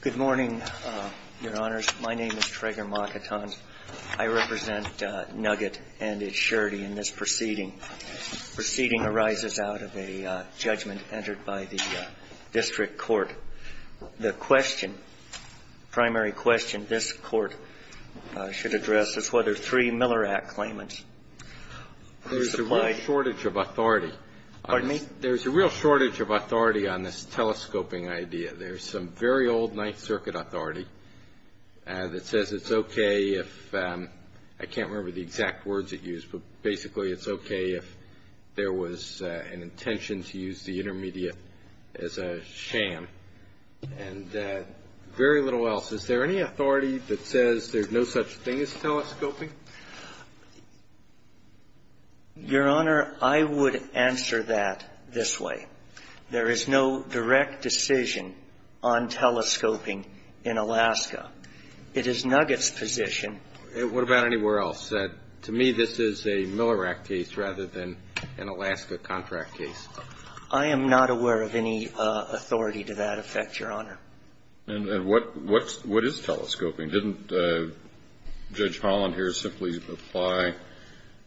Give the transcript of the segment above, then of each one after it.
Good morning, Your Honors. My name is Traeger Mockaton. I represent Nugget and its surety in this proceeding. The proceeding arises out of a judgment entered by the district court. The question, primary question this court should address is whether three Miller Act claimants who supplied. There's a real shortage of authority. Pardon me? There's a real shortage of authority on this telescoping idea. There's some very old Ninth Circuit authority that says it's okay if, I can't remember the exact words it used, but basically it's okay if there was an intention to use the intermediate as a sham and very little else. Is there any authority that says there's no such thing as telescoping? Your Honor, I would answer that this way. There is no direct decision on telescoping in Alaska. It is Nugget's position. What about anywhere else? To me, this is a Miller Act case rather than an Alaska contract case. I am not aware of any authority to that effect, Your Honor. And what is telescoping? Didn't Judge Holland here simply apply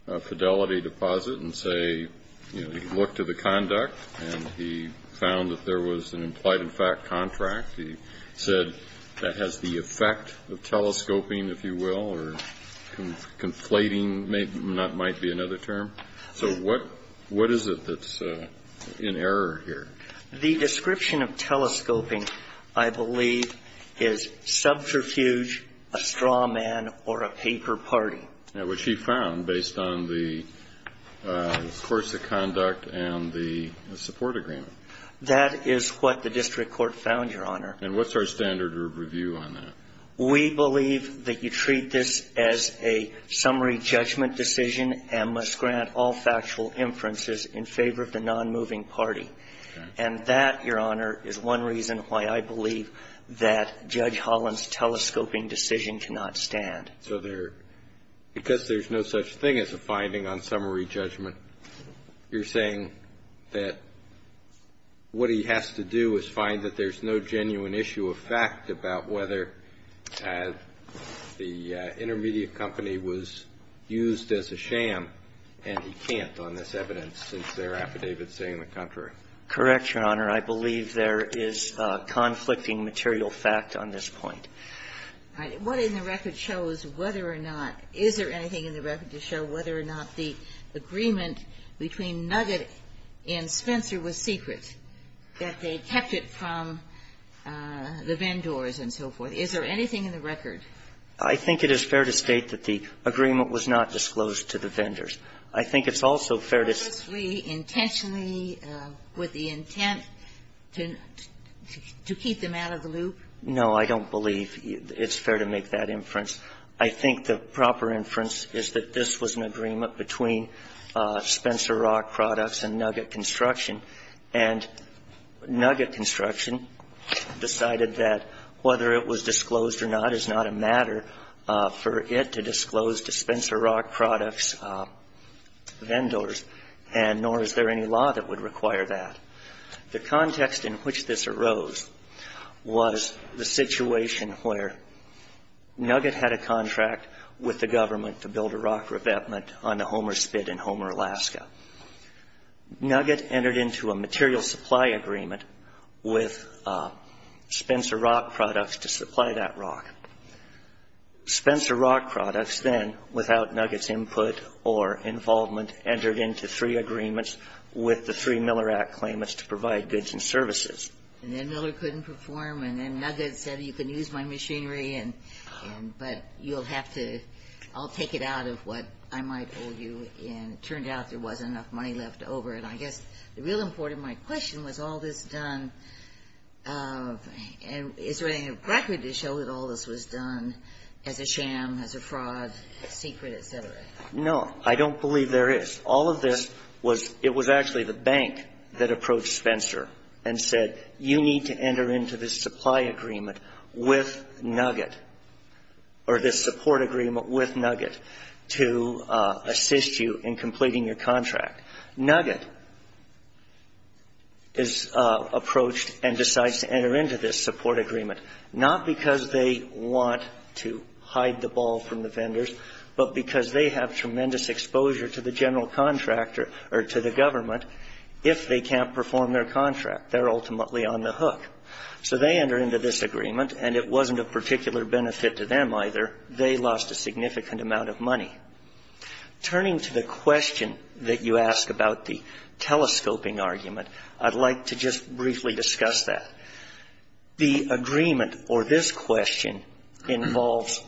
a fidelity deposit and say, you know, he looked at the conduct and he found that there was an implied in fact contract. He said that has the effect of telescoping, if you will, or conflating might be another term. So what is it that's in error here? The description of telescoping, I believe, is subterfuge, a straw man, or a paper party. Which he found based on the course of conduct and the support agreement. That is what the district court found, Your Honor. And what's our standard review on that? We believe that you treat this as a summary judgment decision and must grant all And that, Your Honor, is one reason why I believe that Judge Holland's telescoping decision cannot stand. So there, because there's no such thing as a finding on summary judgment, you're saying that what he has to do is find that there's no genuine issue of fact about whether the intermediate company was used as a sham, and he can't on this evidence since there are affidavits saying the contrary. Correct, Your Honor. I believe there is conflicting material fact on this point. All right. What in the record shows whether or not – is there anything in the record to show whether or not the agreement between Nugget and Spencer was secret, that they kept it from the vendors and so forth? Is there anything in the record? I think it is fair to state that the agreement was not disclosed to the vendors. I think it's also fair to state that the agreement was not disclosed to the vendors. Was the agreement disclosed with the intent to keep them out of the loop? No, I don't believe it's fair to make that inference. I think the proper inference is that this was an agreement between Spencer Rock Products and Nugget Construction. And Nugget Construction decided that whether it was disclosed or not is not a matter for it to disclose to Spencer Rock Products' vendors, and nor is there any law that would require that. The context in which this arose was the situation where Nugget had a contract with the government to build a rock revetment on the Homer Spit in Homer, Alaska. Nugget entered into a material supply agreement with Spencer Rock Products to supply that rock. Spencer Rock Products then, without Nugget's input or involvement, entered into three agreements with the three Miller Act claimants to provide goods and services. And then Miller couldn't perform, and then Nugget said, you can use my machinery, and but you'll have to all take it out of what I might owe you. And it turned out there wasn't enough money left over. And I guess the real important question was, was all this done as a sham, as a fraud, secret, et cetera? No. I don't believe there is. All of this was — it was actually the bank that approached Spencer and said, you need to enter into this supply agreement with Nugget, or this support agreement with Nugget, to assist you in completing your contract. Nugget is approached and decides to enter into this support agreement, not because they want to hide the ball from the vendors, but because they have tremendous exposure to the general contractor, or to the government, if they can't perform their contract. They're ultimately on the hook. So they enter into this agreement, and it wasn't of particular benefit to them, either. They lost a significant amount of money. Turning to the question that you ask about the telescoping argument, I'd like to just briefly discuss that. The agreement, or this question, involves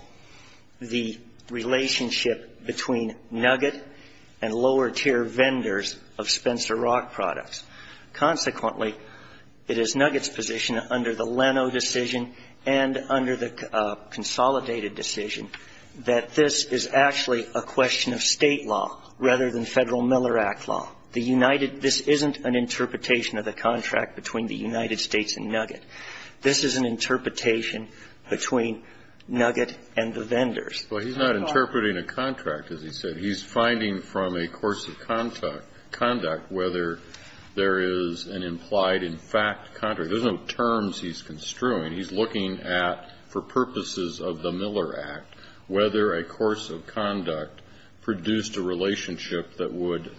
the relationship between Nugget and lower tier vendors of Spencer Rock products. Consequently, it is Nugget's position, under the Leno decision and under the Consolidated decision, that this is actually a question of State law, rather than Federal Miller Act law. The United --" this isn't an interpretation of the contract between the United States and Nugget. This is an interpretation between Nugget and the vendors. Kennedy. Well, he's not interpreting a contract, as he said. He's finding from a course of conduct whether there is an implied in fact contract. There's no terms he's construing. He's looking at, for purposes of the Miller Act, whether a course of conduct produced a relationship that would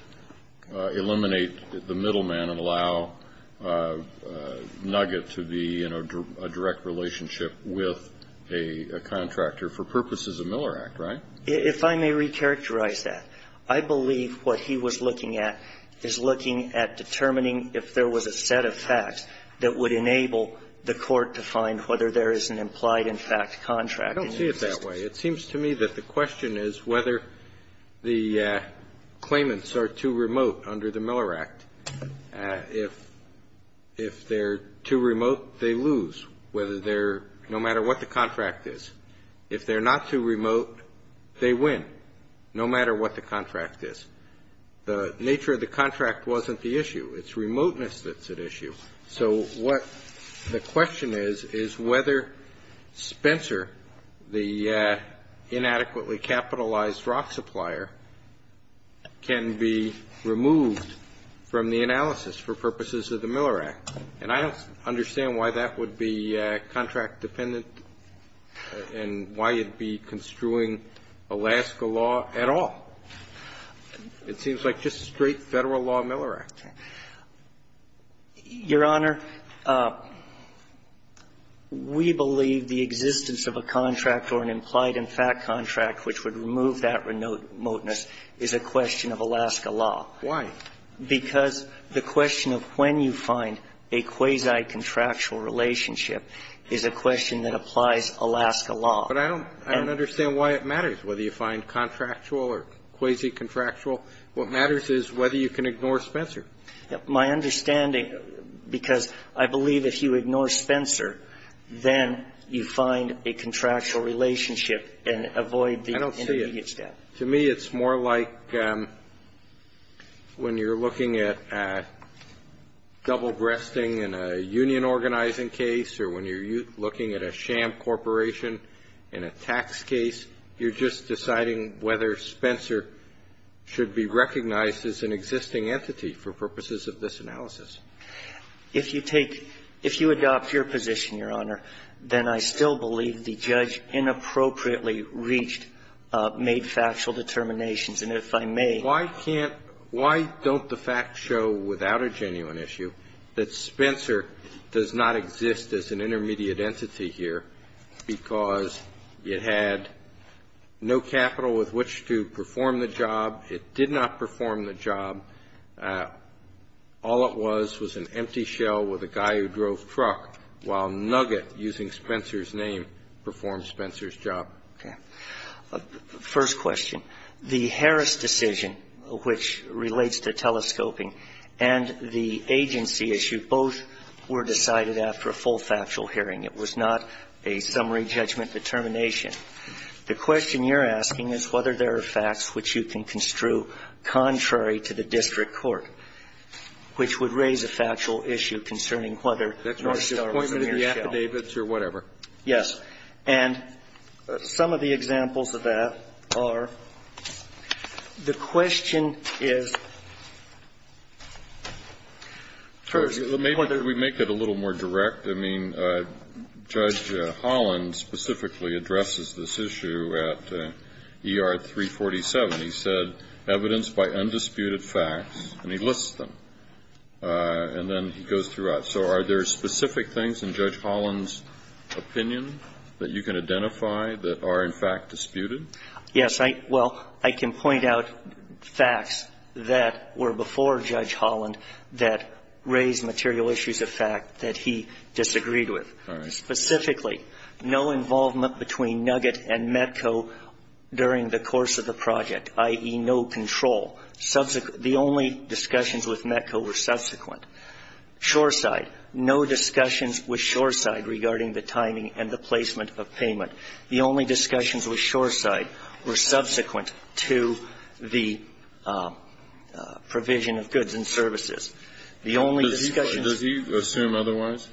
eliminate the middleman and allow Nugget to be in a direct relationship with a contractor for purposes of Miller Act, right? If I may recharacterize that, I believe what he was looking at is looking at determining if there was a set of facts that would enable the Court to find whether there is an implied in fact contract. I don't see it that way. It seems to me that the question is whether the claimants are too remote under the Miller Act. If they're too remote, they lose, whether they're no matter what the contract is. If they're not too remote, they win, no matter what the contract is. The nature of the contract wasn't the issue. It's remoteness that's at issue. So what the question is, is whether Spencer, the inadequately capitalized rock supplier, can be removed from the analysis for purposes of the Miller Act. And I don't understand why that would be contract dependent and why you'd be construing Alaska law at all. It seems like just straight Federal law Miller Act. Your Honor, we believe the existence of a contract or an implied in fact contract which would remove that remoteness is a question of Alaska law. Why? Because the question of when you find a quasi-contractual relationship is a question that applies Alaska law. But I don't understand why it matters whether you find contractual or quasi-contractual. What matters is whether you can ignore Spencer. My understanding, because I believe if you ignore Spencer, then you find a contractual relationship and avoid the intermediate step. I don't see it. To me, it's more like when you're looking at double-breasting in a union organizing case or when you're looking at a sham corporation in a tax case, you're just deciding whether Spencer should be recognized as an existing entity for purposes of this analysis. If you take — if you adopt your position, Your Honor, then I still believe the judge inappropriately reached — made factual determinations. And if I may — Why can't — why don't the facts show without a genuine issue that Spencer does not It had a shell with which to perform the job. It did not perform the job. All it was was an empty shell with a guy who drove truck while Nugget, using Spencer's name, performed Spencer's job. Okay. First question. The Harris decision, which relates to telescoping, and the agency issue both were decided after a full factual hearing. It was not a summary judgment determination. The question you're asking is whether there are facts which you can construe contrary to the district court, which would raise a factual issue concerning whether North Star was a mere shell. Yes. Yes. And some of the examples of that are the question is, first, whether Well, maybe we make it a little more direct. I mean, Judge Holland specifically addresses this issue at ER 347. He said, evidence by undisputed facts, and he lists them. And then he goes throughout. So are there specific things in Judge Holland's opinion that you can identify that are, in fact, disputed? Yes. Well, I can point out facts that were before Judge Holland that raised material issues of fact that he disagreed with. All right. Specifically, no involvement between Nugget and Metco during the course of the project, i.e. no control. The only discussions with Metco were subsequent. Shoreside. No discussions with Shoreside regarding the timing and the placement of payment. The only discussions with Shoreside were subsequent to the provision of goods and services. The only discussions Does he assume otherwise?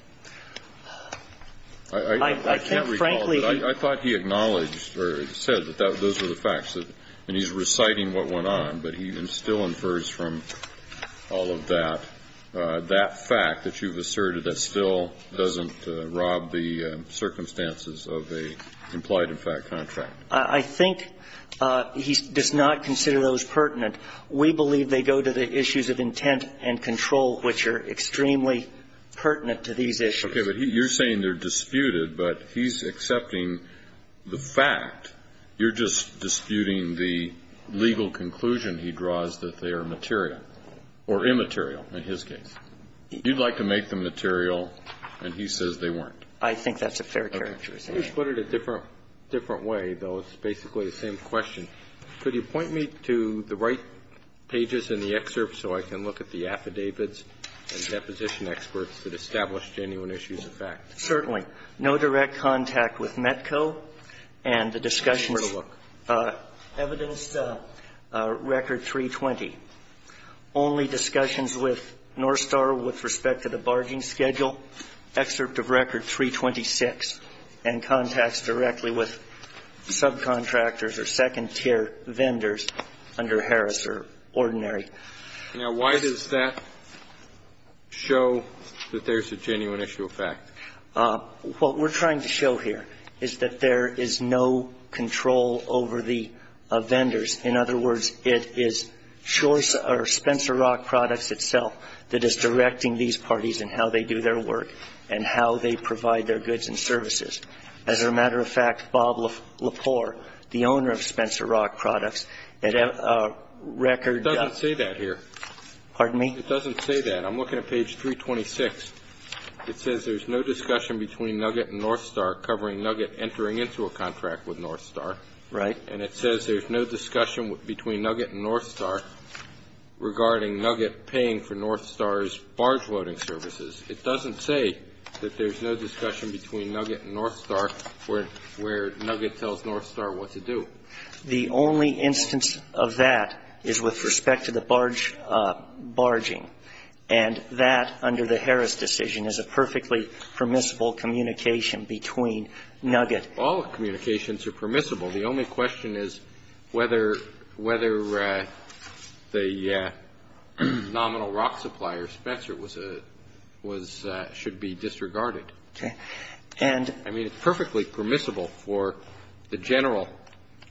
I can't recall. I can't recall. But I thought he acknowledged or said that those were the facts. And he's reciting what went on, but he still infers from all of that, that fact that you've asserted that still doesn't rob the circumstances of a implied-in-fact contract. I think he does not consider those pertinent. We believe they go to the issues of intent and control, which are extremely pertinent to these issues. Okay. But you're saying they're disputed, but he's accepting the fact. You're just disputing the legal conclusion he draws that they are material or immaterial in his case. You'd like to make them material, and he says they weren't. I think that's a fair characterization. Okay. Let me put it a different way, though. It's basically the same question. Could you point me to the right pages in the excerpt so I can look at the affidavits and deposition experts that establish genuine issues of fact? Certainly. No direct contact with METCO. And the discussions were evidence to Record 320. Only discussions with Northstar with respect to the barging schedule, excerpt of Record 326, and contacts directly with subcontractors or second-tier vendors under Harris or Ordinary. Now, why does that show that there's a genuine issue of fact? What we're trying to show here is that there is no control over the vendors. In other words, it is Choice or Spencer Rock Products itself that is directing these parties in how they do their work and how they provide their goods and services. As a matter of fact, Bob Lepore, the owner of Spencer Rock Products, at Record It doesn't say that here. Pardon me? It doesn't say that. I'm looking at page 326. It says there's no discussion between Nugget and Northstar covering Nugget entering into a contract with Northstar. Right. And it says there's no discussion between Nugget and Northstar regarding Nugget paying for Northstar's barge loading services. It doesn't say that there's no discussion between Nugget and Northstar where Nugget tells Northstar what to do. The only instance of that is with respect to the barge, barging. And that, under the Harris decision, is a perfectly permissible communication between Nugget. All communications are permissible. The only question is whether the nominal rock supplier, Spencer, was a, was, should be disregarded. Okay. And I mean, it's perfectly permissible for the general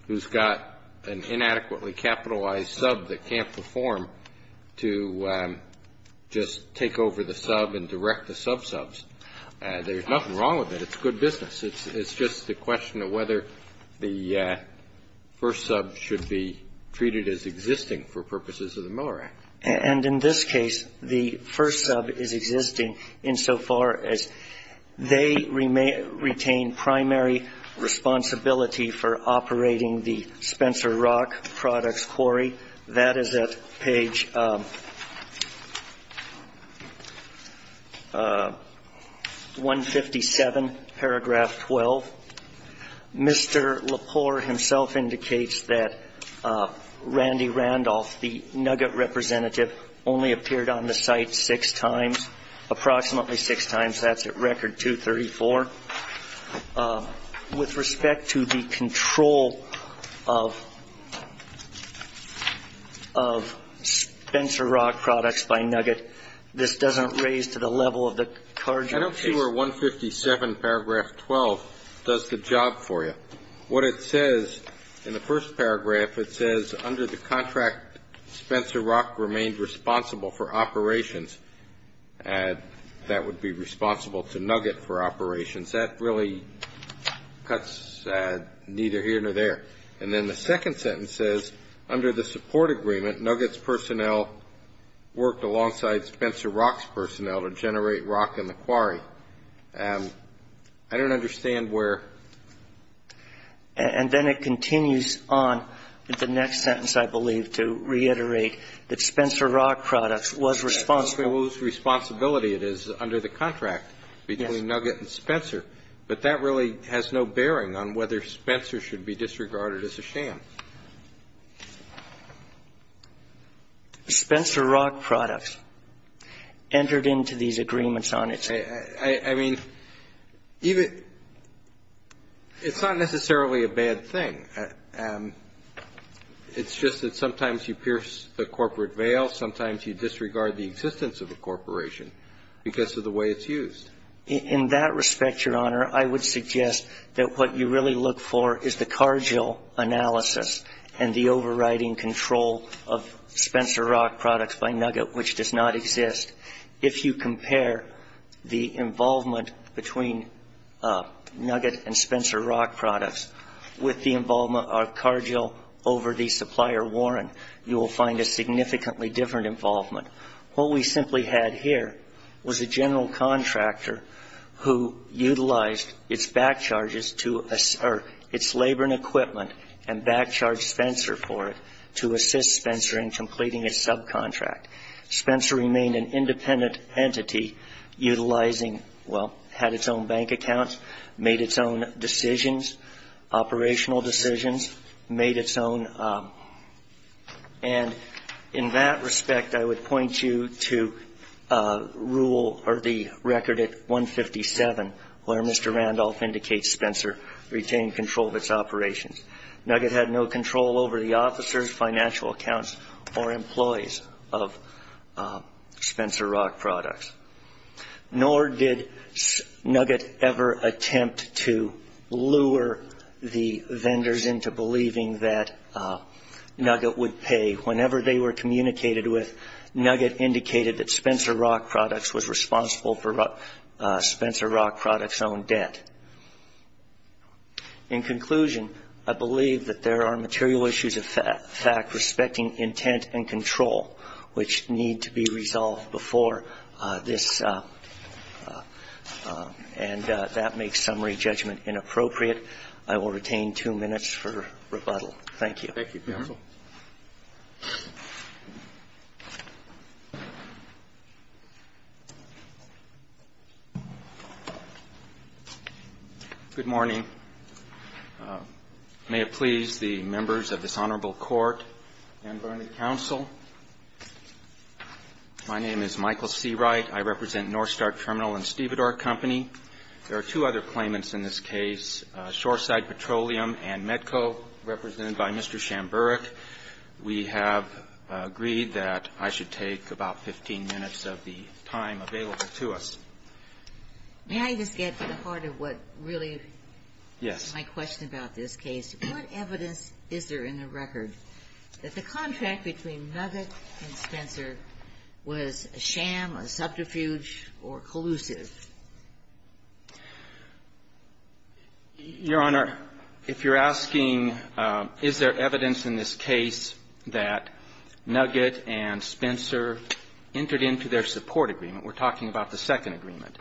who's got an inadequately capitalized sub that can't perform to just take over the sub and direct the subsubs. There's nothing wrong with it. It's good business. It's just a question of whether the first sub should be treated as existing for purposes of the Miller Act. And in this case, the first sub is existing insofar as they retain primary responsibility for operating the Spencer Rock Products Quarry. That is at page 157, paragraph 12. Mr. Lepore himself indicates that Randy Randolph, the Nugget representative, only appeared on the site six times, approximately six times. That's at record 234. With respect to the control of, of Spencer Rock Products by Nugget, this doesn't raise to the level of the cardinal case. Miller 157, paragraph 12, does the job for you. What it says in the first paragraph, it says, under the contract Spencer Rock remained responsible for operations. That would be responsible to Nugget for operations. That really cuts neither here nor there. And then the second sentence says, under the support agreement Nugget's personnel worked alongside Spencer Rock's personnel to generate rock in the quarry. I don't understand where. And then it continues on with the next sentence, I believe, to reiterate that Spencer Rock Products was responsible. Whose responsibility it is under the contract between Nugget and Spencer. But that really has no bearing on whether Spencer should be disregarded as a sham. Spencer Rock Products entered into these agreements on its own. I mean, even, it's not necessarily a bad thing. It's just that sometimes you pierce the corporate veil, sometimes you disregard the existence of the corporation because of the way it's used. In that respect, Your Honor, I would suggest that what you really look for is the Cargill analysis and the overriding control of Spencer Rock Products by Nugget, which does not exist. If you compare the involvement between Nugget and Spencer Rock Products with the involvement of Cargill over the supplier Warren, you will find a significantly different involvement. What we simply had here was a general contractor who utilized its back charges to, or its labor and equipment, and back charged Spencer for it to assist Spencer in completing his subcontract. Spencer remained an independent entity utilizing, well, had its own bank accounts, made its own decisions, operational decisions, made its own. And in that respect, I would point you to rule, or the record at 157, where Mr. Randolph indicates Spencer retained control of its operations. Nugget had no control over the officers, financial accounts, or employees of Spencer Rock Products. Nor did Nugget ever attempt to lure the vendors into believing that Nugget would pay. Whenever they were communicated with, Nugget indicated that Spencer Rock Products was responsible for Spencer Rock Products' own debt. In conclusion, I believe that there are material issues of fact respecting intent and control, which need to be resolved before this, and that makes summary judgment inappropriate. I will retain two minutes for rebuttal. Thank you. Thank you, counsel. Good morning. May it please the members of this honorable court and board of counsel. My name is Michael Seawright. I represent Northstar Terminal and Stevedore Company. There are two other claimants in this case, Shoreside Petroleum and Medco, represented by Mr. Shamburick. We have agreed that I should take about 15 minutes of the time available to us. May I just get to the heart of what really is my question about this case? What evidence is there in the record that the contract between Nugget and Spencer was a sham, a subterfuge, or collusive? Your Honor, if you're asking is there evidence in this case that Nugget and Spencer entered into their support agreement, we're talking about the second agreement,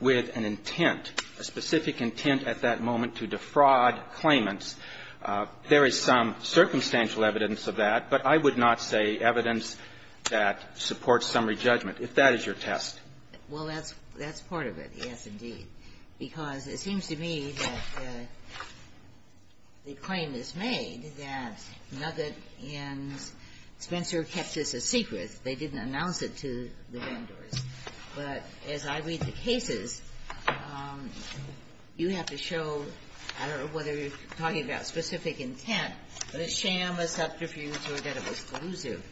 with an intent, a specific intent at that moment to defraud claimants, there is some circumstantial evidence of that, but I would not say evidence that supports summary judgment, if that is your test. Well, that's part of it, yes, indeed. Because it seems to me that the claim is made that Nugget and Spencer kept this a secret. They didn't announce it to the vendors. But as I read the cases, you have to show, I don't know whether you're talking about specific intent, but a sham, a subterfuge, or that it was collusive.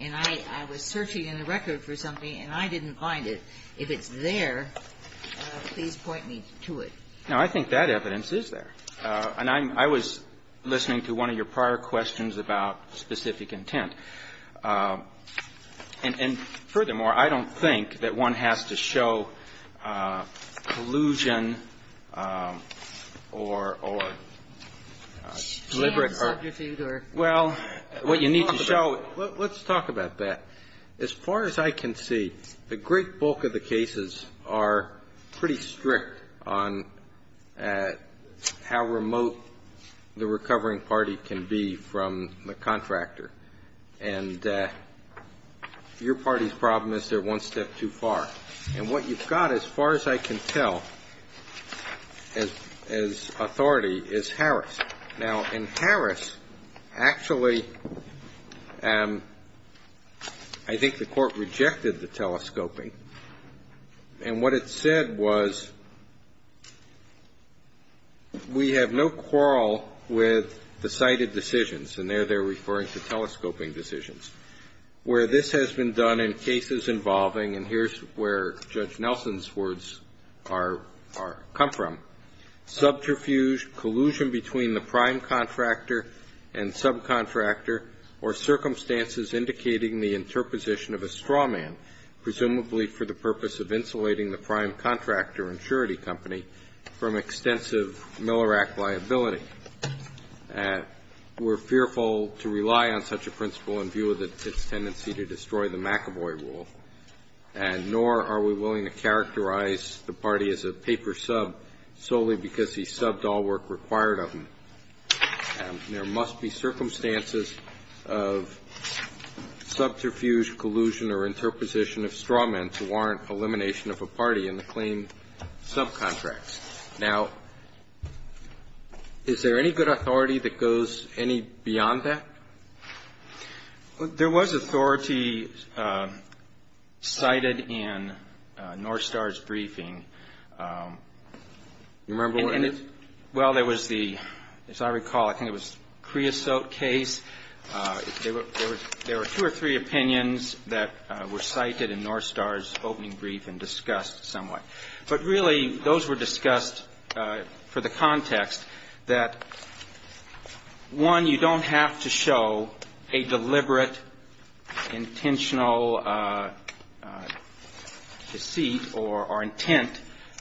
And I was searching in the record for something, and I didn't find it. If it's there, please point me to it. No, I think that evidence is there. And I was listening to one of your prior questions about specific intent. And furthermore, I don't think that one has to show collusion or deliberate or --" Sham, subterfuge, or --" Well, what you need to show --" Let's talk about that. As far as I can see, the great bulk of the cases are pretty strict on how remote the recovering party can be from the contractor. And your party's problem is they're one step too far. And what you've got, as far as I can tell, as authority, is Harris. Now, in Harris, actually, I think the Court rejected the telescoping. And what it said was, we have no quarrel with the cited decisions. And there they're referring to telescoping decisions. Where this has been done in cases involving, and here's where Judge Nelson's words are come from, subterfuge, collusion between the prime contractor and subcontractor, or circumstances indicating the interposition of a straw man, presumably for the purpose of insulating the prime contractor and surety company, from extensive Miller Act liability. We're fearful to rely on such a principle in view of its tendency to destroy the McAvoy rule. And nor are we willing to characterize the party as a paper sub solely because he subbed all work required of him. And there must be circumstances of subterfuge, collusion, or interposition of straw men to warrant elimination of a party in the claimed subcontracts. Now, is there any good authority that goes any beyond that? Well, there was the, as I recall, I think it was Creosote case. There were two or three opinions that were cited in Northstar's opening brief and discussed somewhat. But really, those were discussed for the context that, one, you don't have to show a deliberate, intentional deceit or intent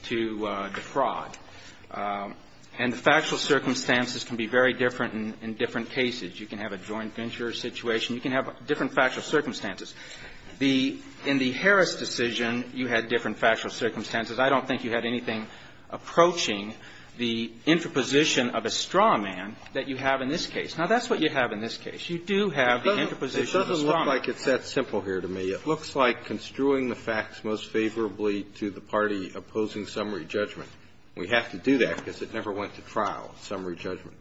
to defraud. And the factual circumstances can be very different in different cases. You can have a joint venture situation. You can have different factual circumstances. The — in the Harris decision, you had different factual circumstances. I don't think you had anything approaching the interposition of a straw man that you have in this case. Now, that's what you have in this case. You do have the interposition of a straw man. It doesn't look like it's that simple here to me. It looks like construing the facts most favorably to the party opposing summary judgment. We have to do that because it never went to trial, summary judgment.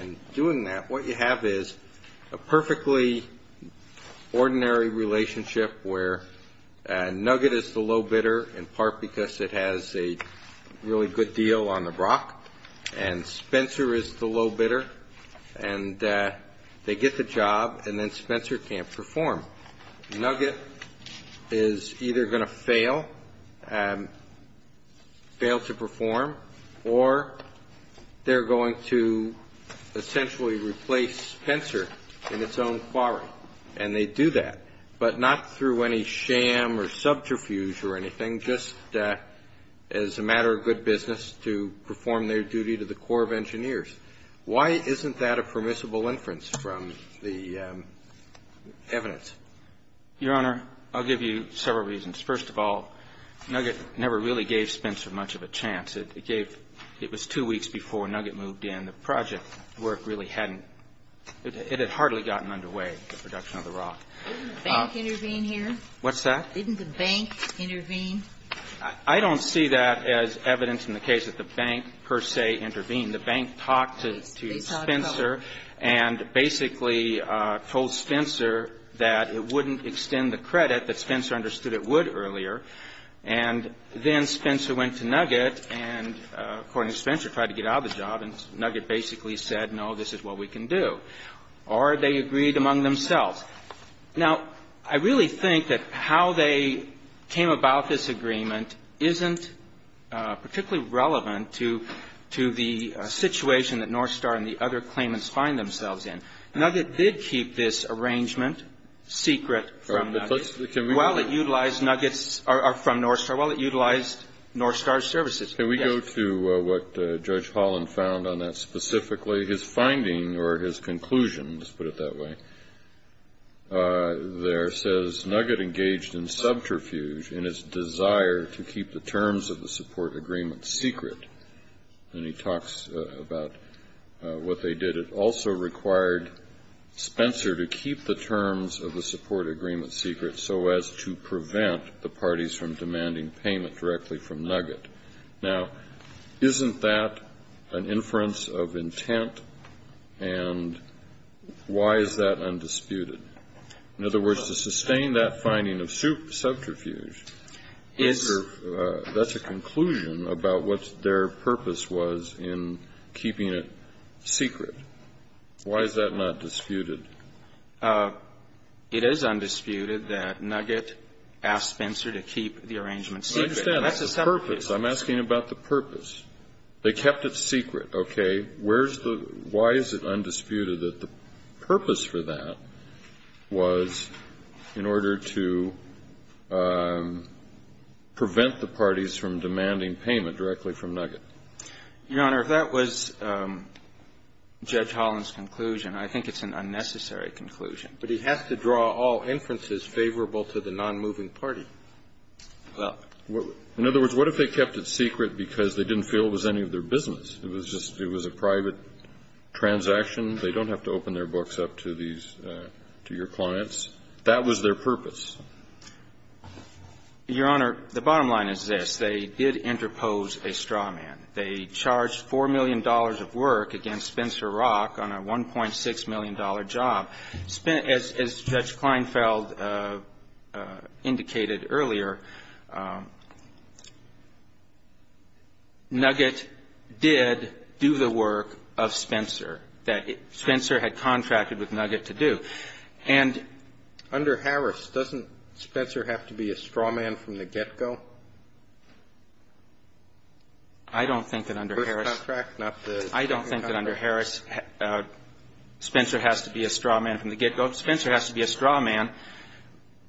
And doing that, what you have is a perfectly ordinary relationship where Nugget is the low bidder, in part because it has a really good deal on the Brock, and Spencer is the low bidder, and they get the job, and then Spencer can't perform. Nugget is either going to fail, fail to perform, or they're going to essentially replace Spencer in its own quarry. And they do that, but not through any sham or subterfuge or anything, just as a matter of good business to perform their duty to the Corps of Engineers. Why isn't that a permissible inference from the evidence? Your Honor, I'll give you several reasons. First of all, Nugget never really gave Spencer much of a chance. It gave — it was two weeks before Nugget moved in. The project work really hadn't — it had hardly gotten underway, the production of the rock. Didn't the bank intervene here? What's that? Didn't the bank intervene? I don't see that as evidence in the case that the bank, per se, intervened. The bank talked to Spencer and basically told Spencer that it wouldn't extend the credit that Spencer understood it would earlier. And then Spencer went to Nugget and, according to Spencer, tried to get out of the job, and Nugget basically said, no, this is what we can do. Or they agreed among themselves. Now, I really think that how they came about this agreement isn't particularly relevant to the situation that Northstar and the other claimants find themselves in. Nugget did keep this arrangement secret from Nugget. Well, it utilized Nugget's — or from Northstar. Well, it utilized Northstar's services. Yes. Can we go to what Judge Holland found on that specifically, his finding or his conclusion, let's put it that way? There says, Nugget engaged in subterfuge in its desire to keep the terms of the support agreement secret. And he talks about what they did. It also required Spencer to keep the terms of the support agreement secret so as to prevent the parties from demanding payment directly from Nugget. Now, isn't that an inference of intent? And why is that undisputed? In other words, to sustain that finding of subterfuge, that's a conclusion about what their purpose was in keeping it secret. Why is that not disputed? It is undisputed that Nugget asked Spencer to keep the arrangement secret. That's a separate case. I'm asking about the purpose. They kept it secret. Okay. Where's the — why is it undisputed that the purpose for that was in order to prevent the parties from demanding payment directly from Nugget? Your Honor, if that was Judge Holland's conclusion, I think it's an unnecessary conclusion. But he has to draw all inferences favorable to the nonmoving party. Well, in other words, what if they kept it secret because they didn't feel it was any of their business? It was just — it was a private transaction. They don't have to open their books up to these — to your clients. That was their purpose. Your Honor, the bottom line is this. They did interpose a straw man. They charged $4 million of work against Spencer Rock on a $1.6 million job. As Judge Kleinfeld indicated earlier, Nugget did do the work of Spencer that Spencer had contracted with Nugget to do. And — Under Harris, doesn't Spencer have to be a straw man from the get-go? I don't think that under Harris — First contract, not the second contract. I don't think that under Harris, Spencer has to be a straw man from the get-go. Spencer has to be a straw man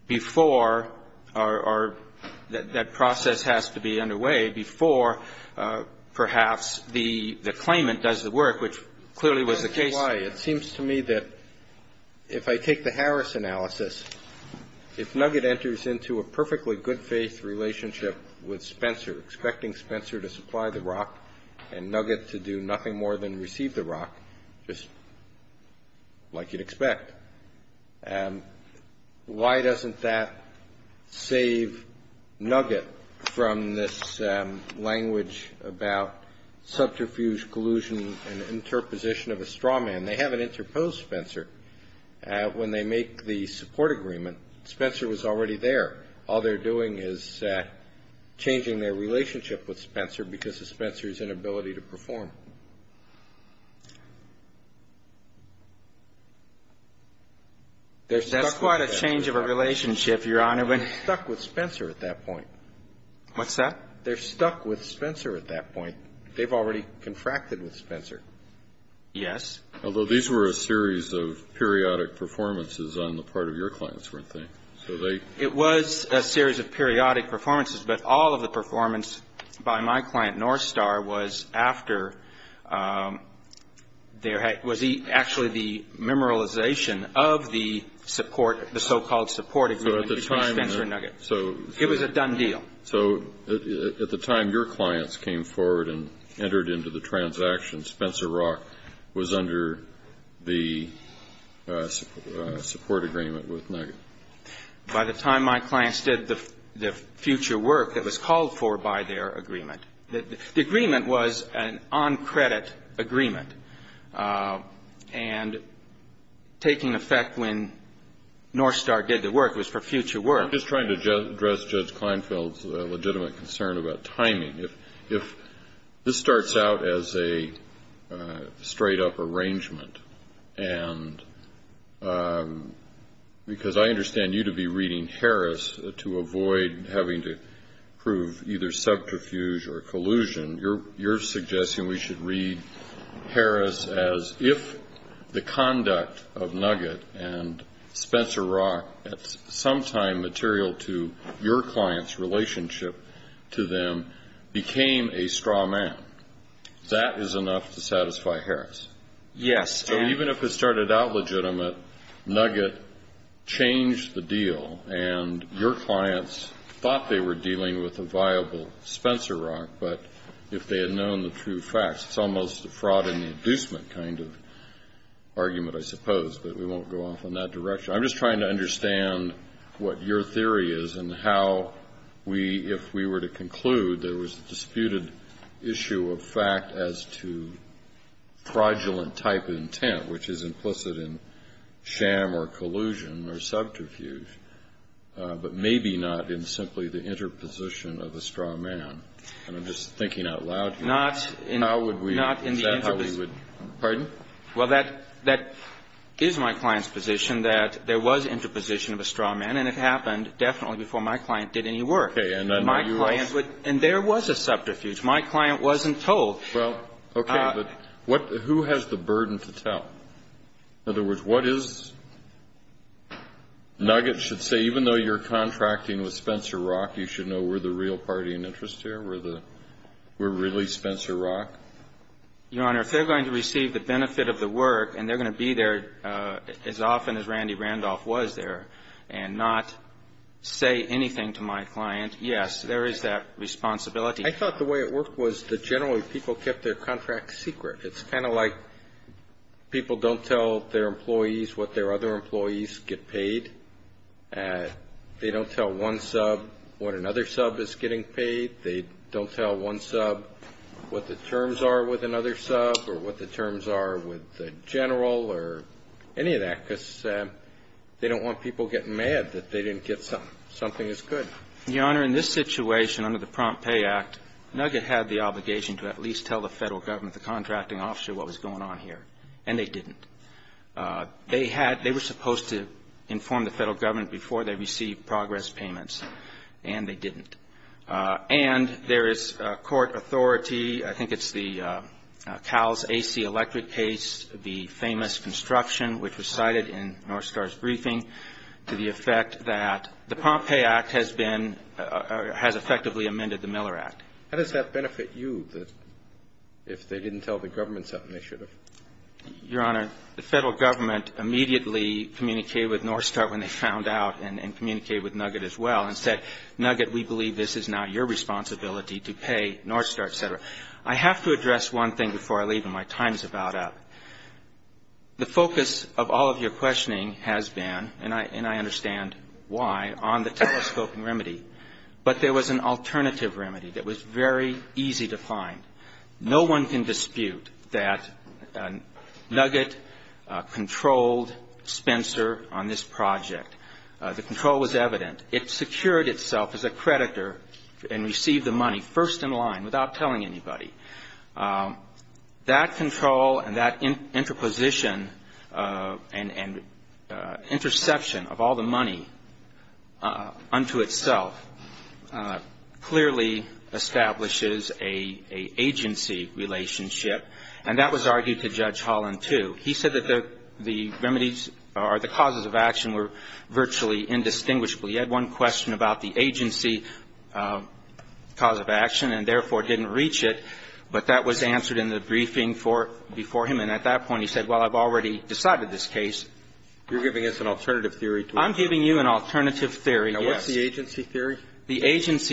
before — or that process has to be underway before perhaps the claimant does the work, which clearly was the case. It seems to me that if I take the Harris analysis, if Nugget enters into a perfectly good-faith relationship with Spencer, expecting Spencer to supply the Rock and Nugget to do nothing more than receive the Rock, just like you'd expect, why doesn't that save Nugget from this language about subterfuge collusion and interposition of a straw man? They haven't interposed Spencer. When they make the support agreement, Spencer was already there. All they're doing is changing their relationship with Spencer because of Spencer's inability to perform. That's quite a change of a relationship, Your Honor. They're stuck with Spencer at that point. What's that? They're stuck with Spencer at that point. They've already confracted with Spencer. Yes. Although these were a series of periodic performances on the part of your clients, weren't they? It was a series of periodic performances, but all of the performance by my client Northstar was actually the memorialization of the support, the so-called support agreement between Spencer and Nugget. It was a done deal. So at the time your clients came forward and entered into the transaction, by the time my clients did the future work that was called for by their agreement the agreement was an on-credit agreement. And taking effect when Northstar did the work was for future work. I'm just trying to address Judge Kleinfeld's legitimate concern about timing. If this starts out as a straight-up arrangement, and because I understand you to be reading Harris to avoid having to prove either subterfuge or collusion, you're suggesting we should read Harris as if the conduct of Nugget and Spencer Rock, at some time material to your client's relationship to them, became a straw man. That is enough to satisfy Harris. Yes. So even if it started out legitimate, Nugget changed the deal, and your clients thought they were dealing with a viable Spencer Rock. But if they had known the true facts, it's almost a fraud and inducement kind of argument, I suppose. But we won't go off in that direction. I'm just trying to understand what your theory is and how we, if we were to conclude there was a disputed issue of fact as to fraudulent type intent, which is implicit in sham or collusion or subterfuge, but maybe not in simply the interposition of a straw man. And I'm just thinking out loud here. Not in the interposition. How would we – is that how we would – pardon? Well, that – that is my client's position, that there was interposition of a straw man, and it happened definitely before my client did any work. Okay. And I know you also – My client would – and there was a subterfuge. My client wasn't told. Well, okay. But what – who has the burden to tell? In other words, what is – Nugget should say, even though you're contracting with Spencer Rock, you should know we're the real party in interest here? We're the – we're really Spencer Rock? Your Honor, if they're going to receive the benefit of the work and they're going to be there as often as Randy Randolph was there and not say anything to my client, yes, there is that responsibility. I thought the way it worked was that generally people kept their contracts secret. It's kind of like people don't tell their employees what their other employees get paid. They don't tell one sub what another sub is getting paid. They don't tell one sub what the terms are with another sub or what the terms are with the general or any of that because they don't want people getting mad that they didn't get something as good. Your Honor, in this situation, under the Prompt Pay Act, Nugget had the obligation to at least tell the federal government, the contracting officer, what was going on here, and they didn't. They had – they were supposed to inform the federal government before they received progress payments, and they didn't. And there is court authority. I think it's the CALS AC electric case, the famous construction, which was cited in Northstar's briefing, to the effect that the Prompt Pay Act has been – has effectively amended the Miller Act. How does that benefit you, if they didn't tell the government something they should have? Your Honor, the federal government immediately communicated with Northstar that we believe this is not your responsibility to pay Northstar, et cetera. I have to address one thing before I leave and my time is about up. The focus of all of your questioning has been, and I understand why, on the telescoping remedy. But there was an alternative remedy that was very easy to find. No one can dispute that Nugget controlled Spencer on this project. The control was evident. It secured itself as a creditor and received the money first in line without telling anybody. That control and that interposition and interception of all the money unto itself clearly establishes an agency relationship, and that was argued to Judge Holland too. He said that the remedies or the causes of action were virtually indistinguishable. He had one question about the agency cause of action and, therefore, didn't reach it, but that was answered in the briefing before him. And at that point he said, well, I've already decided this case. You're giving us an alternative theory. I'm giving you an alternative theory, yes. Now, what's the agency theory? Who is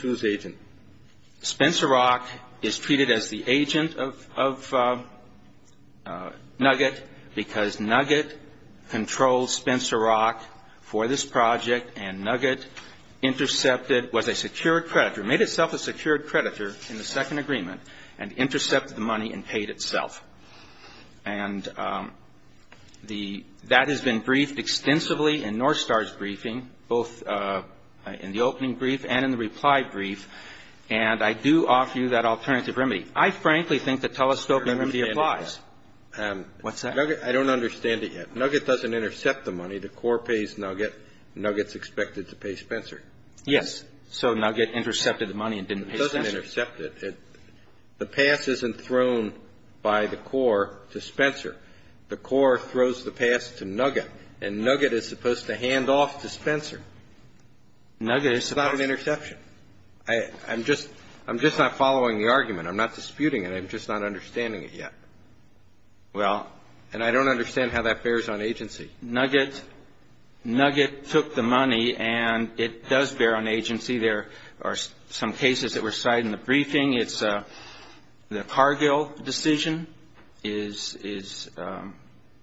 whose agent? Spencer Rock is treated as the agent of Nugget because Nugget controlled Spencer Rock for this project and Nugget intercepted, was a secured creditor, made itself a secured creditor in the second agreement and intercepted the money and paid itself. And that has been briefed extensively in Northstar's briefing, both in the opening brief and in the reply brief, and I do offer you that alternative remedy. I frankly think the telescoping remedy applies. What's that? I don't understand it yet. Nugget doesn't intercept the money. The core pays Nugget. Nugget's expected to pay Spencer. Yes. So Nugget intercepted the money and didn't pay Spencer. It doesn't intercept it. The pass isn't thrown by the core to Spencer. The core throws the pass to Nugget, and Nugget is supposed to hand off to Spencer. It's not an interception. I'm just not following the argument. I'm not disputing it. I'm just not understanding it yet. Well, and I don't understand how that bears on agency. Nugget took the money, and it does bear on agency. There are some cases that were cited in the briefing. It's the Cargill decision is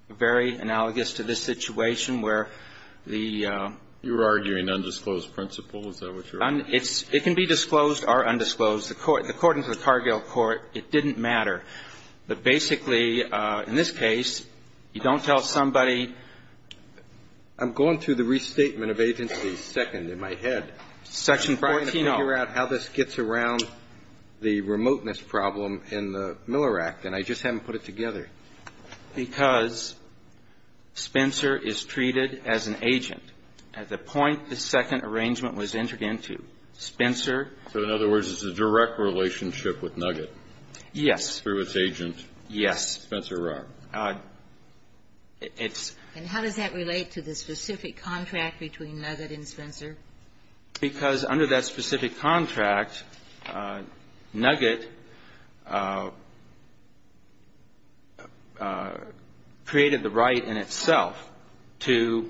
very analogous to this situation where the ---- You're arguing undisclosed principle. Is that what you're arguing? It can be disclosed or undisclosed. According to the Cargill court, it didn't matter. But basically, in this case, you don't tell somebody ---- I'm going through the restatement of agency second in my head. Section 14. I'm trying to figure out how this gets around the remoteness problem in the Miller Act, and I just haven't put it together. Because Spencer is treated as an agent at the point the second arrangement was entered into. Spencer ---- So in other words, it's a direct relationship with Nugget. Yes. Through its agent. Yes. Spencer Rock. It's ---- And how does that relate to the specific contract between Nugget and Spencer? Because under that specific contract, Nugget created the right in itself to,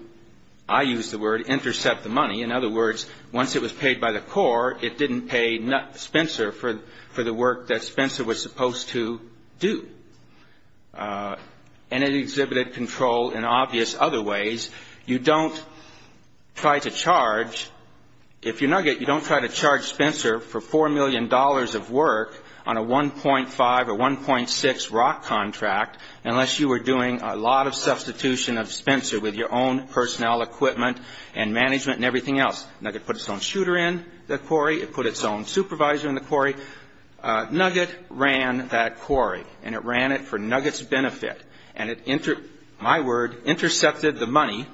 I use the word, intercept the money. In other words, once it was paid by the court, it didn't pay Spencer for the work that Spencer was supposed to do. And it exhibited control in obvious other ways. You don't try to charge. If you're Nugget, you don't try to charge Spencer for $4 million of work on a 1.5 or 1.6 Rock contract unless you were doing a lot of substitution of Spencer with your own personnel equipment and management and everything else. Nugget put its own shooter in the quarry. It put its own supervisor in the quarry. Nugget ran that quarry, and it ran it for Nugget's benefit. And it, my word, intercepted the money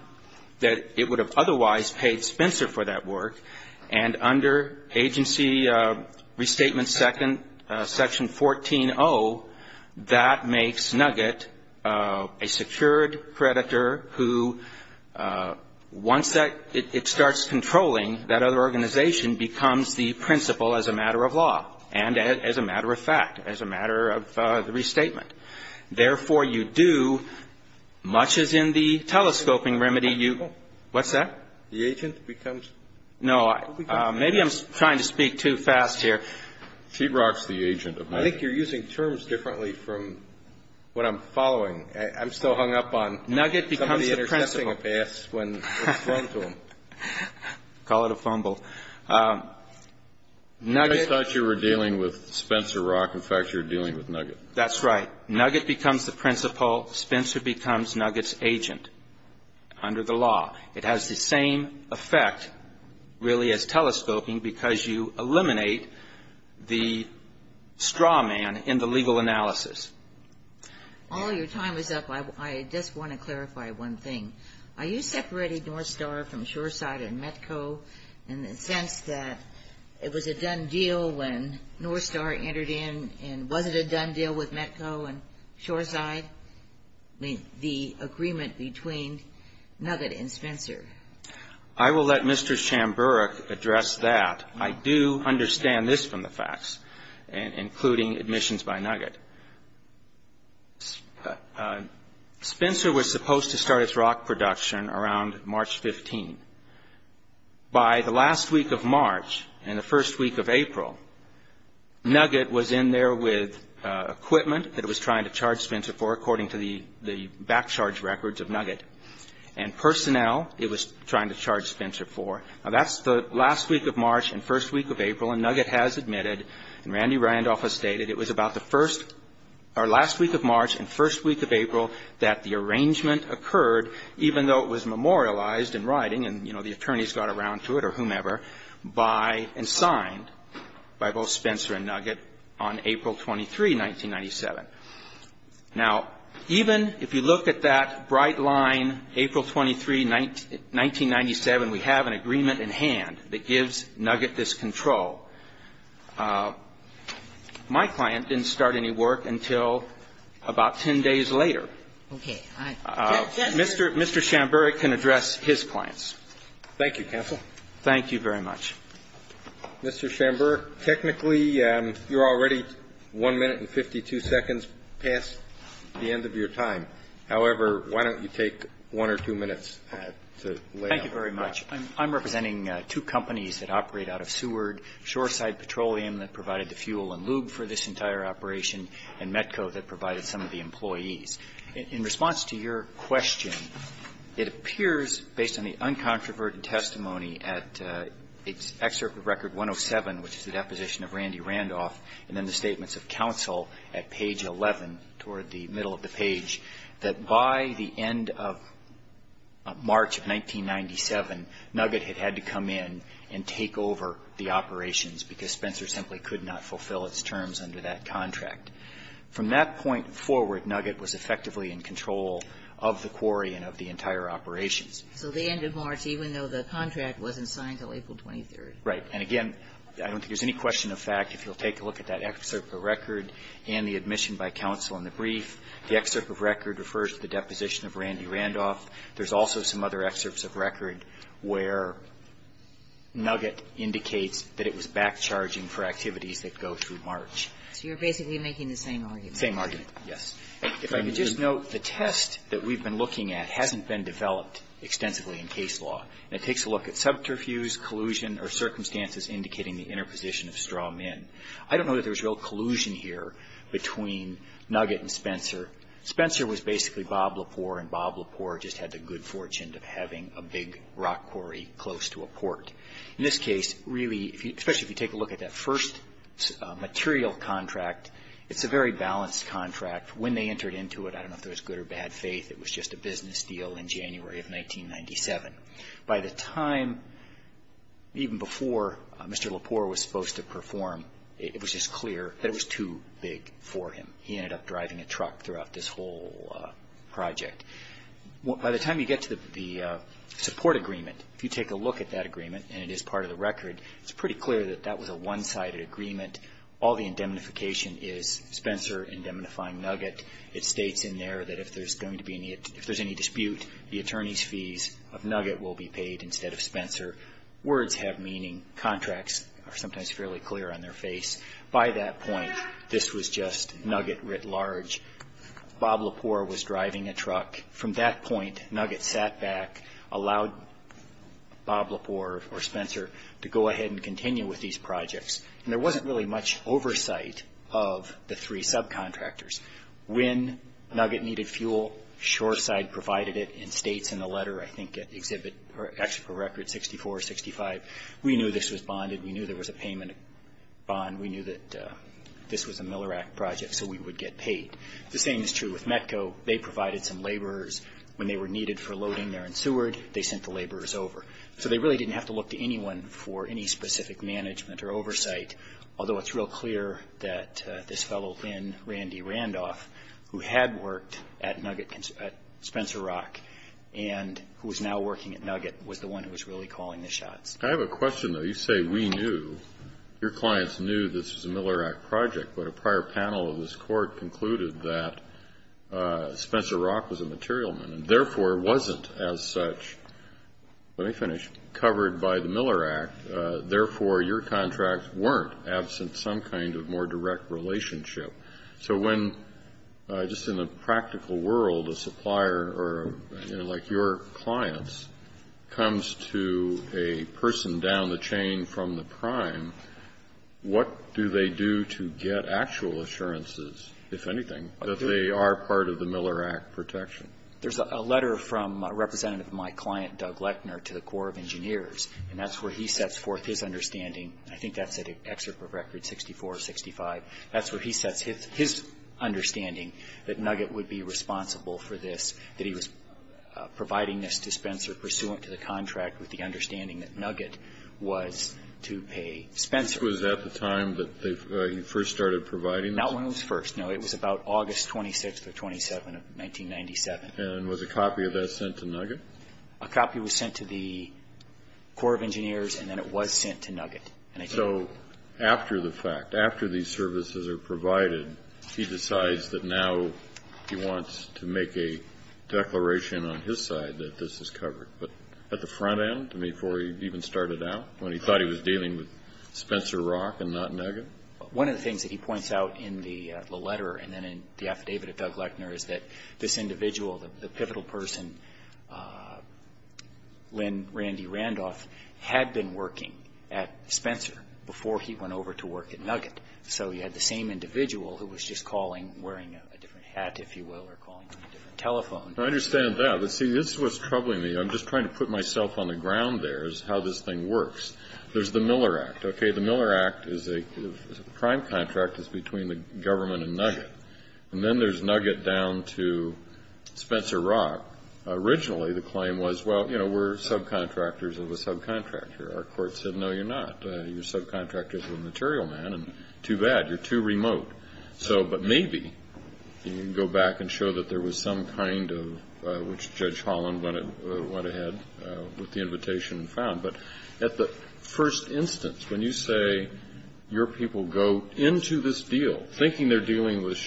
that it would have otherwise paid Spencer for that work, and under Agency Restatement Section 14-0, that makes Nugget a secured predator who, once that ---- it starts controlling that other organization, becomes the principal as a matter of law and as a matter of fact, as a matter of the restatement. Therefore, you do, much as in the telescoping remedy, you ---- What's that? The agent becomes ---- No. Maybe I'm trying to speak too fast here. She rocks the agent of Nugget. I think you're using terms differently from what I'm following. I'm still hung up on ---- Nugget becomes the principal. Somebody intercepting a pass when it's thrown to them. Call it a fumble. Nugget ---- I thought you were dealing with Spencer Rock. In fact, you're dealing with Nugget. That's right. Nugget becomes the principal. Spencer becomes Nugget's agent under the law. It has the same effect, really, as telescoping because you eliminate the straw man in the legal analysis. All your time is up. I just want to clarify one thing. Are you separating Northstar from Shoreside and Metco in the sense that it was a done deal when Northstar entered in, and was it a done deal with Metco and Shoreside, the agreement between Nugget and Spencer? I will let Mr. Chamburek address that. I do understand this from the facts, including admissions by Nugget. Spencer was supposed to start its rock production around March 15. By the last week of March and the first week of April, Nugget was in there with equipment that it was trying to charge Spencer for, according to the back charge records of Nugget, and personnel it was trying to charge Spencer for. Now, that's the last week of March and first week of April, and Nugget has admitted, and Randy Randolph has stated, it was about the first or last week of March and first week of April that the arrangement occurred, even though it was memorialized in writing and, you know, the attorneys got around to it or whomever, by and signed by both Spencer and Nugget on April 23, 1997. Now, even if you look at that bright line, April 23, 1997, we have an agreement in hand that gives Nugget this control. My client didn't start any work until about 10 days later. Okay. Mr. Shamburick can address his clients. Thank you, counsel. Thank you very much. Mr. Shamburick, technically, you're already 1 minute and 52 seconds past the end of your time. However, why don't you take 1 or 2 minutes to lay out. Thank you very much. I'm representing two companies that operate out of Seward, Shoreside Petroleum that provided the fuel and lube for this entire operation, and Metco that provided some of the employees. In response to your question, it appears, based on the uncontroverted testimony at Excerpt of Record 107, which is the deposition of Randy Randolph, and then the statements of counsel at page 11, toward the middle of the page, that by the end of March of 1997, Nugget had had to come in and take over the operations because Spencer simply could not fulfill its terms under that contract. From that point forward, Nugget was effectively in control of the quarry and of the entire operations. So the end of March, even though the contract wasn't signed until April 23rd. Right. And, again, I don't think there's any question of fact. If you'll take a look at that excerpt of record and the admission by counsel in the brief, the excerpt of record refers to the deposition of Randy Randolph. There's also some other excerpts of record where Nugget indicates that it was back charging for activities that go through March. So you're basically making the same argument. Same argument, yes. If I could just note, the test that we've been looking at hasn't been developed extensively in case law. And it takes a look at subterfuge, collusion, or circumstances indicating the interposition of straw men. I don't know that there's real collusion here between Nugget and Spencer. Spencer was basically Bob Lepore, and Bob Lepore just had the good fortune of having a big rock quarry close to a port. In this case, really, especially if you take a look at that first material contract, it's a very balanced contract. When they entered into it, I don't know if there was good or bad faith. It was just a business deal in January of 1997. By the time, even before Mr. Lepore was supposed to perform, it was just clear that it was too big for him. He ended up driving a truck throughout this whole project. By the time you get to the support agreement, if you take a look at that agreement and it is part of the record, it's pretty clear that that was a one-sided agreement. All the indemnification is Spencer indemnifying Nugget. It states in there that if there's any dispute, the attorney's fees of Nugget will be paid instead of Spencer. Words have meaning. Contracts are sometimes fairly clear on their face. By that point, this was just Nugget writ large. Bob Lepore was driving a truck. From that point, Nugget sat back, allowed Bob Lepore or Spencer to go ahead and continue with these projects. And there wasn't really much oversight of the three subcontractors. When Nugget needed fuel, Shoreside provided it and states in the letter, I think at the exhibit, or actually for record, 64, 65, we knew this was bonded. We knew there was a payment bond. We knew that this was a Miller Act project, so we would get paid. The same is true with Metco. They provided some laborers. When they were needed for loading there in Seward, they sent the laborers over. So they really didn't have to look to anyone for any specific management or oversight, although it's real clear that this fellow, Lynn Randy Randolph, who had worked at Nugget, at Spencer Rock, and who is now working at Nugget, was the one who was really calling the shots. Kennedy. I have a question, though. You say we knew, your clients knew this was a Miller Act project, but a prior panel of this court concluded that Spencer Rock was a material man and, therefore, wasn't as such, let me finish, covered by the Miller Act. Therefore, your contracts weren't absent some kind of more direct relationship. So when, just in the practical world, a supplier, like your clients, comes to a person down the chain from the prime, what do they do to get actual assurances, if anything, that they are part of the Miller Act protection? There's a letter from a representative of my client, Doug Lechner, to the Corps of Engineers, and that's where he sets forth his understanding. I think that's an excerpt of record 64, 65. That's where he sets his understanding that Nugget would be responsible for this, that he was providing this to Spencer pursuant to the contract with the dispenser. This was at the time that he first started providing this? Not when it was first. No, it was about August 26th or 27th of 1997. And was a copy of that sent to Nugget? A copy was sent to the Corps of Engineers, and then it was sent to Nugget. So after the fact, after these services are provided, he decides that now he wants to make a declaration on his side that this is covered. But at the front end, before he even started out, when he thought he was dealing with Spencer Rock and not Nugget? One of the things that he points out in the letter and then in the affidavit of Doug Lechner is that this individual, the pivotal person, Lynn Randy Randolph, had been working at Spencer before he went over to work at Nugget. So he had the same individual who was just calling, wearing a different hat, if you will, or calling from a different telephone. I understand that. But, see, this is what's troubling me. I'm just trying to put myself on the ground there is how this thing works. There's the Miller Act. Okay, the Miller Act is a crime contract that's between the government and Nugget. And then there's Nugget down to Spencer Rock. Originally the claim was, well, you know, we're subcontractors of a subcontractor. Our court said, no, you're not. You're subcontractors of a material man, and too bad, you're too remote. But maybe you can go back and show that there was some kind of, which Judge Holland went ahead with the invitation and found. But at the first instance, when you say your people go into this deal thinking they're dealing with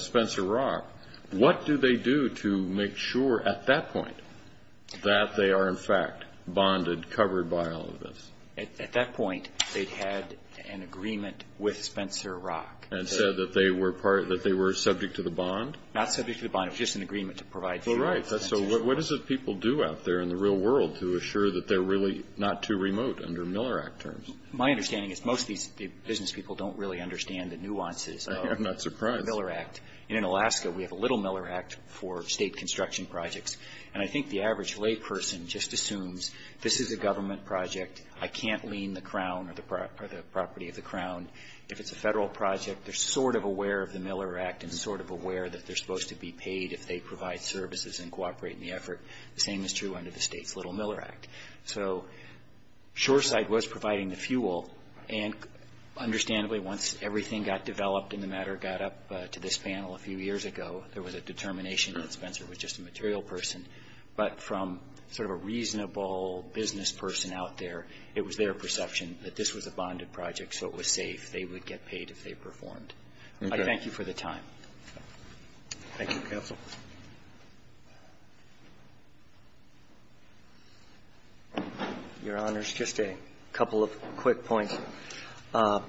Spencer Rock, what do they do to make sure at that point that they are, in fact, bonded, covered by all of this? At that point they'd had an agreement with Spencer Rock. And said that they were part, that they were subject to the bond? Not subject to the bond. It was just an agreement to provide. Well, right. So what is it people do out there in the real world to assure that they're really not too remote under Miller Act terms? My understanding is most of these business people don't really understand the nuances of the Miller Act. I'm not surprised. And in Alaska we have a little Miller Act for State construction projects. And I think the average layperson just assumes this is a government project. I can't lean the Crown or the property of the Crown. If it's a federal project, they're sort of aware of the Miller Act and sort of aware that they're supposed to be paid if they provide services and cooperate in the effort. The same is true under the State's little Miller Act. So Shoreside was providing the fuel. And understandably, once everything got developed and the matter got up to this panel a few years ago, there was a determination that Spencer was just a material person. But from sort of a reasonable business person out there, it was their perception that this was a bonded project, so it was safe. They would get paid if they performed. I thank you for the time. Thank you, counsel. Your Honors, just a couple of quick points. At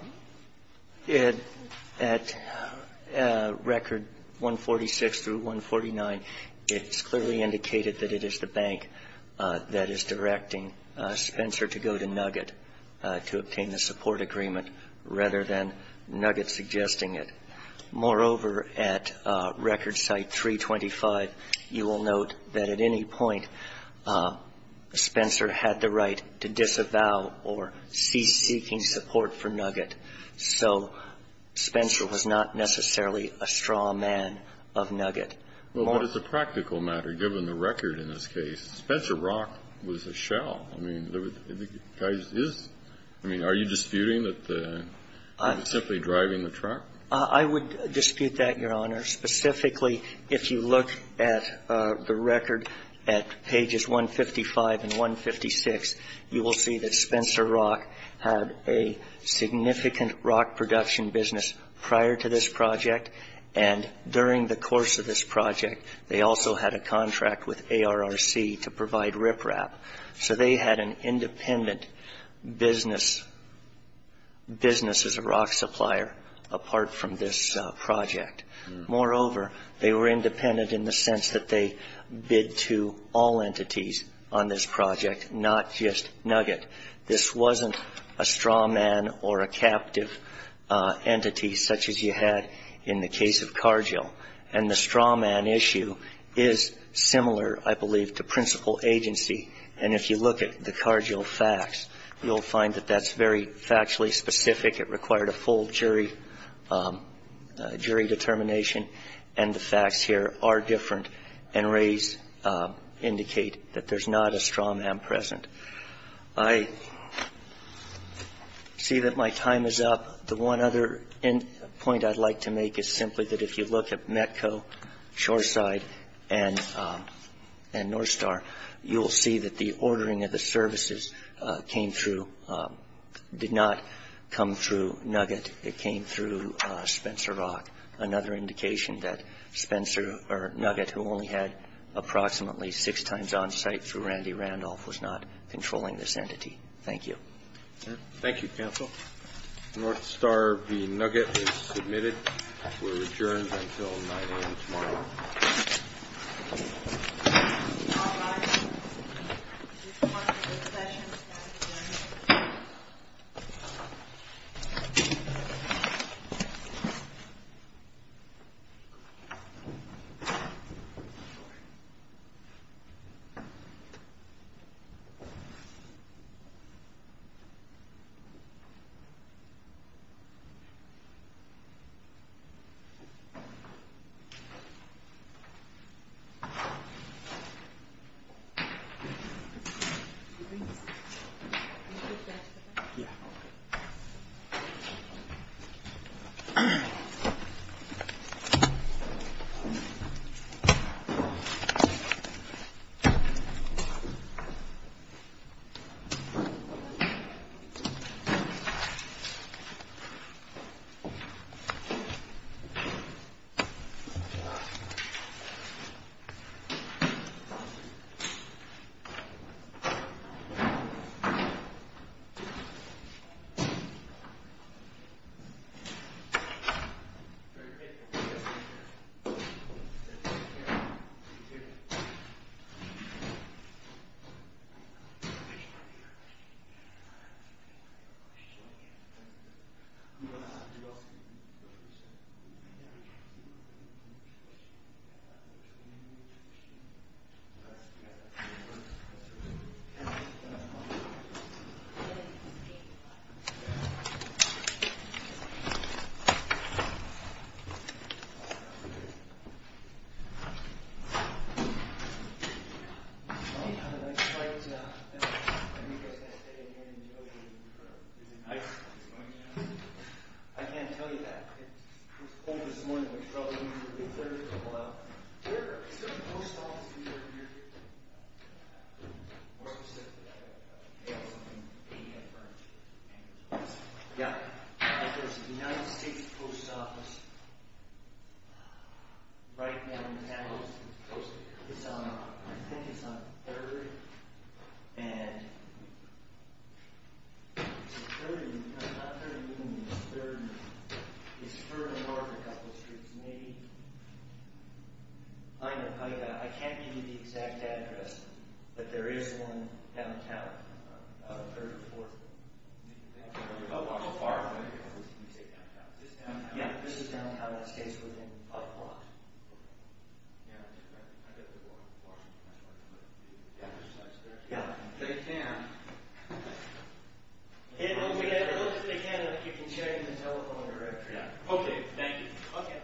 record 146 through 149, it's clearly indicated that it is the bank that is directing Spencer to go to Nugget to obtain the support agreement rather than Nugget suggesting it. Moreover, at record site 325, you will note that at any point, Spencer had the right to disavow or cease seeking support for Nugget. So Spencer was not necessarily a straw man of Nugget. Well, but it's a practical matter, given the record in this case. Spencer Rock was a shell. I mean, are you disputing that he was simply driving the truck? I would dispute that, Your Honor. Specifically, if you look at the record at pages 155 and 156, you will see that Spencer Rock had a significant rock production business prior to this project. And during the course of this project, they also had a contract with ARRC to provide riprap. So they had an independent business as a rock supplier apart from this project. Moreover, they were independent in the sense that they bid to all entities on this project, not just Nugget. This wasn't a straw man or a captive entity such as you had in the case of Cargill. And the straw man issue is similar, I believe, to principal agency. And if you look at the Cargill facts, you'll find that that's very factually specific. It required a full jury determination. And the facts here are different, and Rays indicate that there's not a straw man present. I see that my time is up. The one other point I'd like to make is simply that if you look at METCO, Shoreside, and Northstar, you'll see that the ordering of the services came through, did not come through Nugget. It came through Spencer Rock, another indication that Nugget, who only had approximately six times on-site through Randy Randolph, was not controlling this entity. Thank you. Thank you, counsel. Northstar v. Nugget is submitted. We're adjourned until 9 a.m. tomorrow. All rise. Thank you. Thank you. Thank you. Is there a post office near here? More specifically, is there something paid for? Yeah. There's a United States post office right down the avenue. It's on, I think it's on 3rd. And it's 3rd and, not 3rd and even, it's 3rd and, it's 3rd and North a couple streets, maybe. I know, I can't give you the exact address, but there is one downtown on 3rd and 4th. How far away is it? Is this downtown? Yeah, this is downtown. It stays within a block. Yeah. I've got to go on the 4th and 5th. Yeah. They can. If they can, you can check in the telephone directory. Yeah. Okay, thank you. Okay.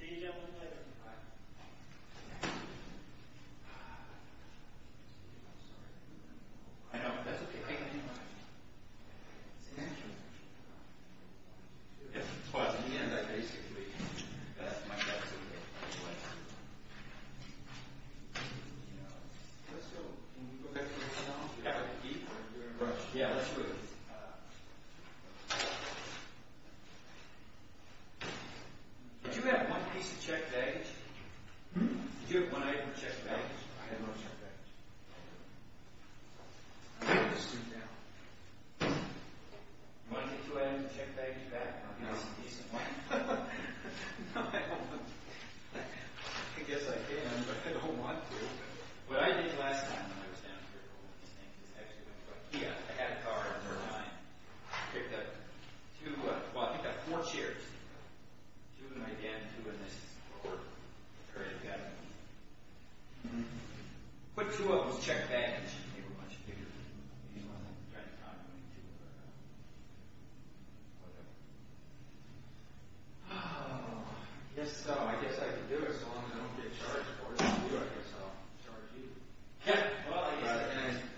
See you gentlemen later. Bye. I know, that's okay. Thank you. Thank you. Well, at the end, I basically, that's my desk over there. Let's go. Can we go back to the hotel? Yeah. Yeah, let's do it. Did you have one piece of checked baggage? Did you have one item of checked baggage? I had no checked baggage. Do you want to take two items of checked baggage back? No. No, I don't want to. I guess I can, but I don't want to. What I did last time when I was down here, I had a car at the time. I picked up two, well, I picked up four chairs. Two in my den, two in this drawer. Put two of those checked baggage. I guess I can do it as long as I don't get charged for it. If I do, I guess I'll charge you.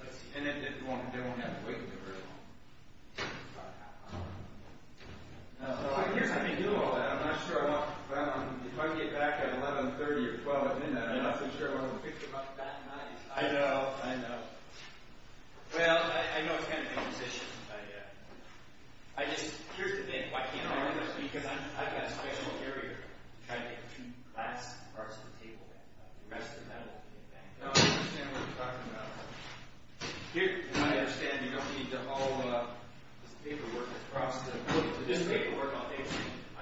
Let's see. They won't have to wait for me very long. About half an hour. Here's how we do all that. If I get back at 11.30 or 12, I've been there. I'm not so sure I want to pick them up that night. I know. I know. Well, I know it's kind of imposition, but here's the thing. Why can't I do this? Because I've got a special area to try to get two glass parts of the table. No, I understand what you're talking about. I understand you don't need all this paperwork. This paperwork, I'll pay for it. Okay.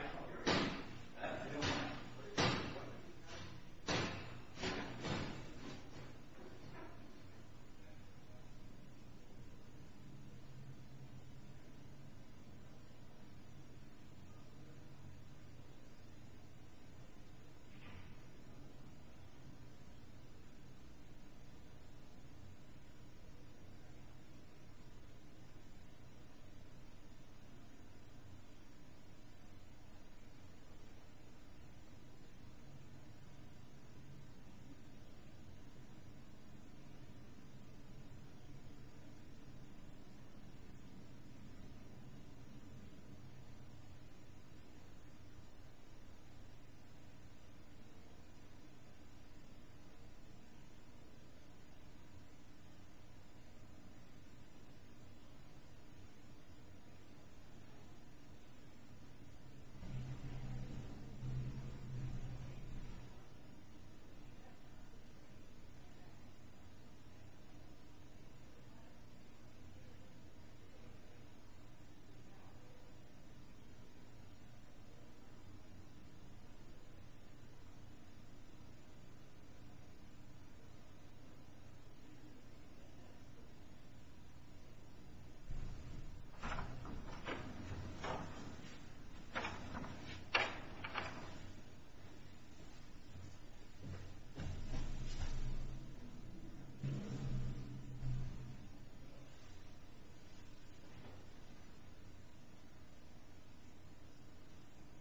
Okay. Okay.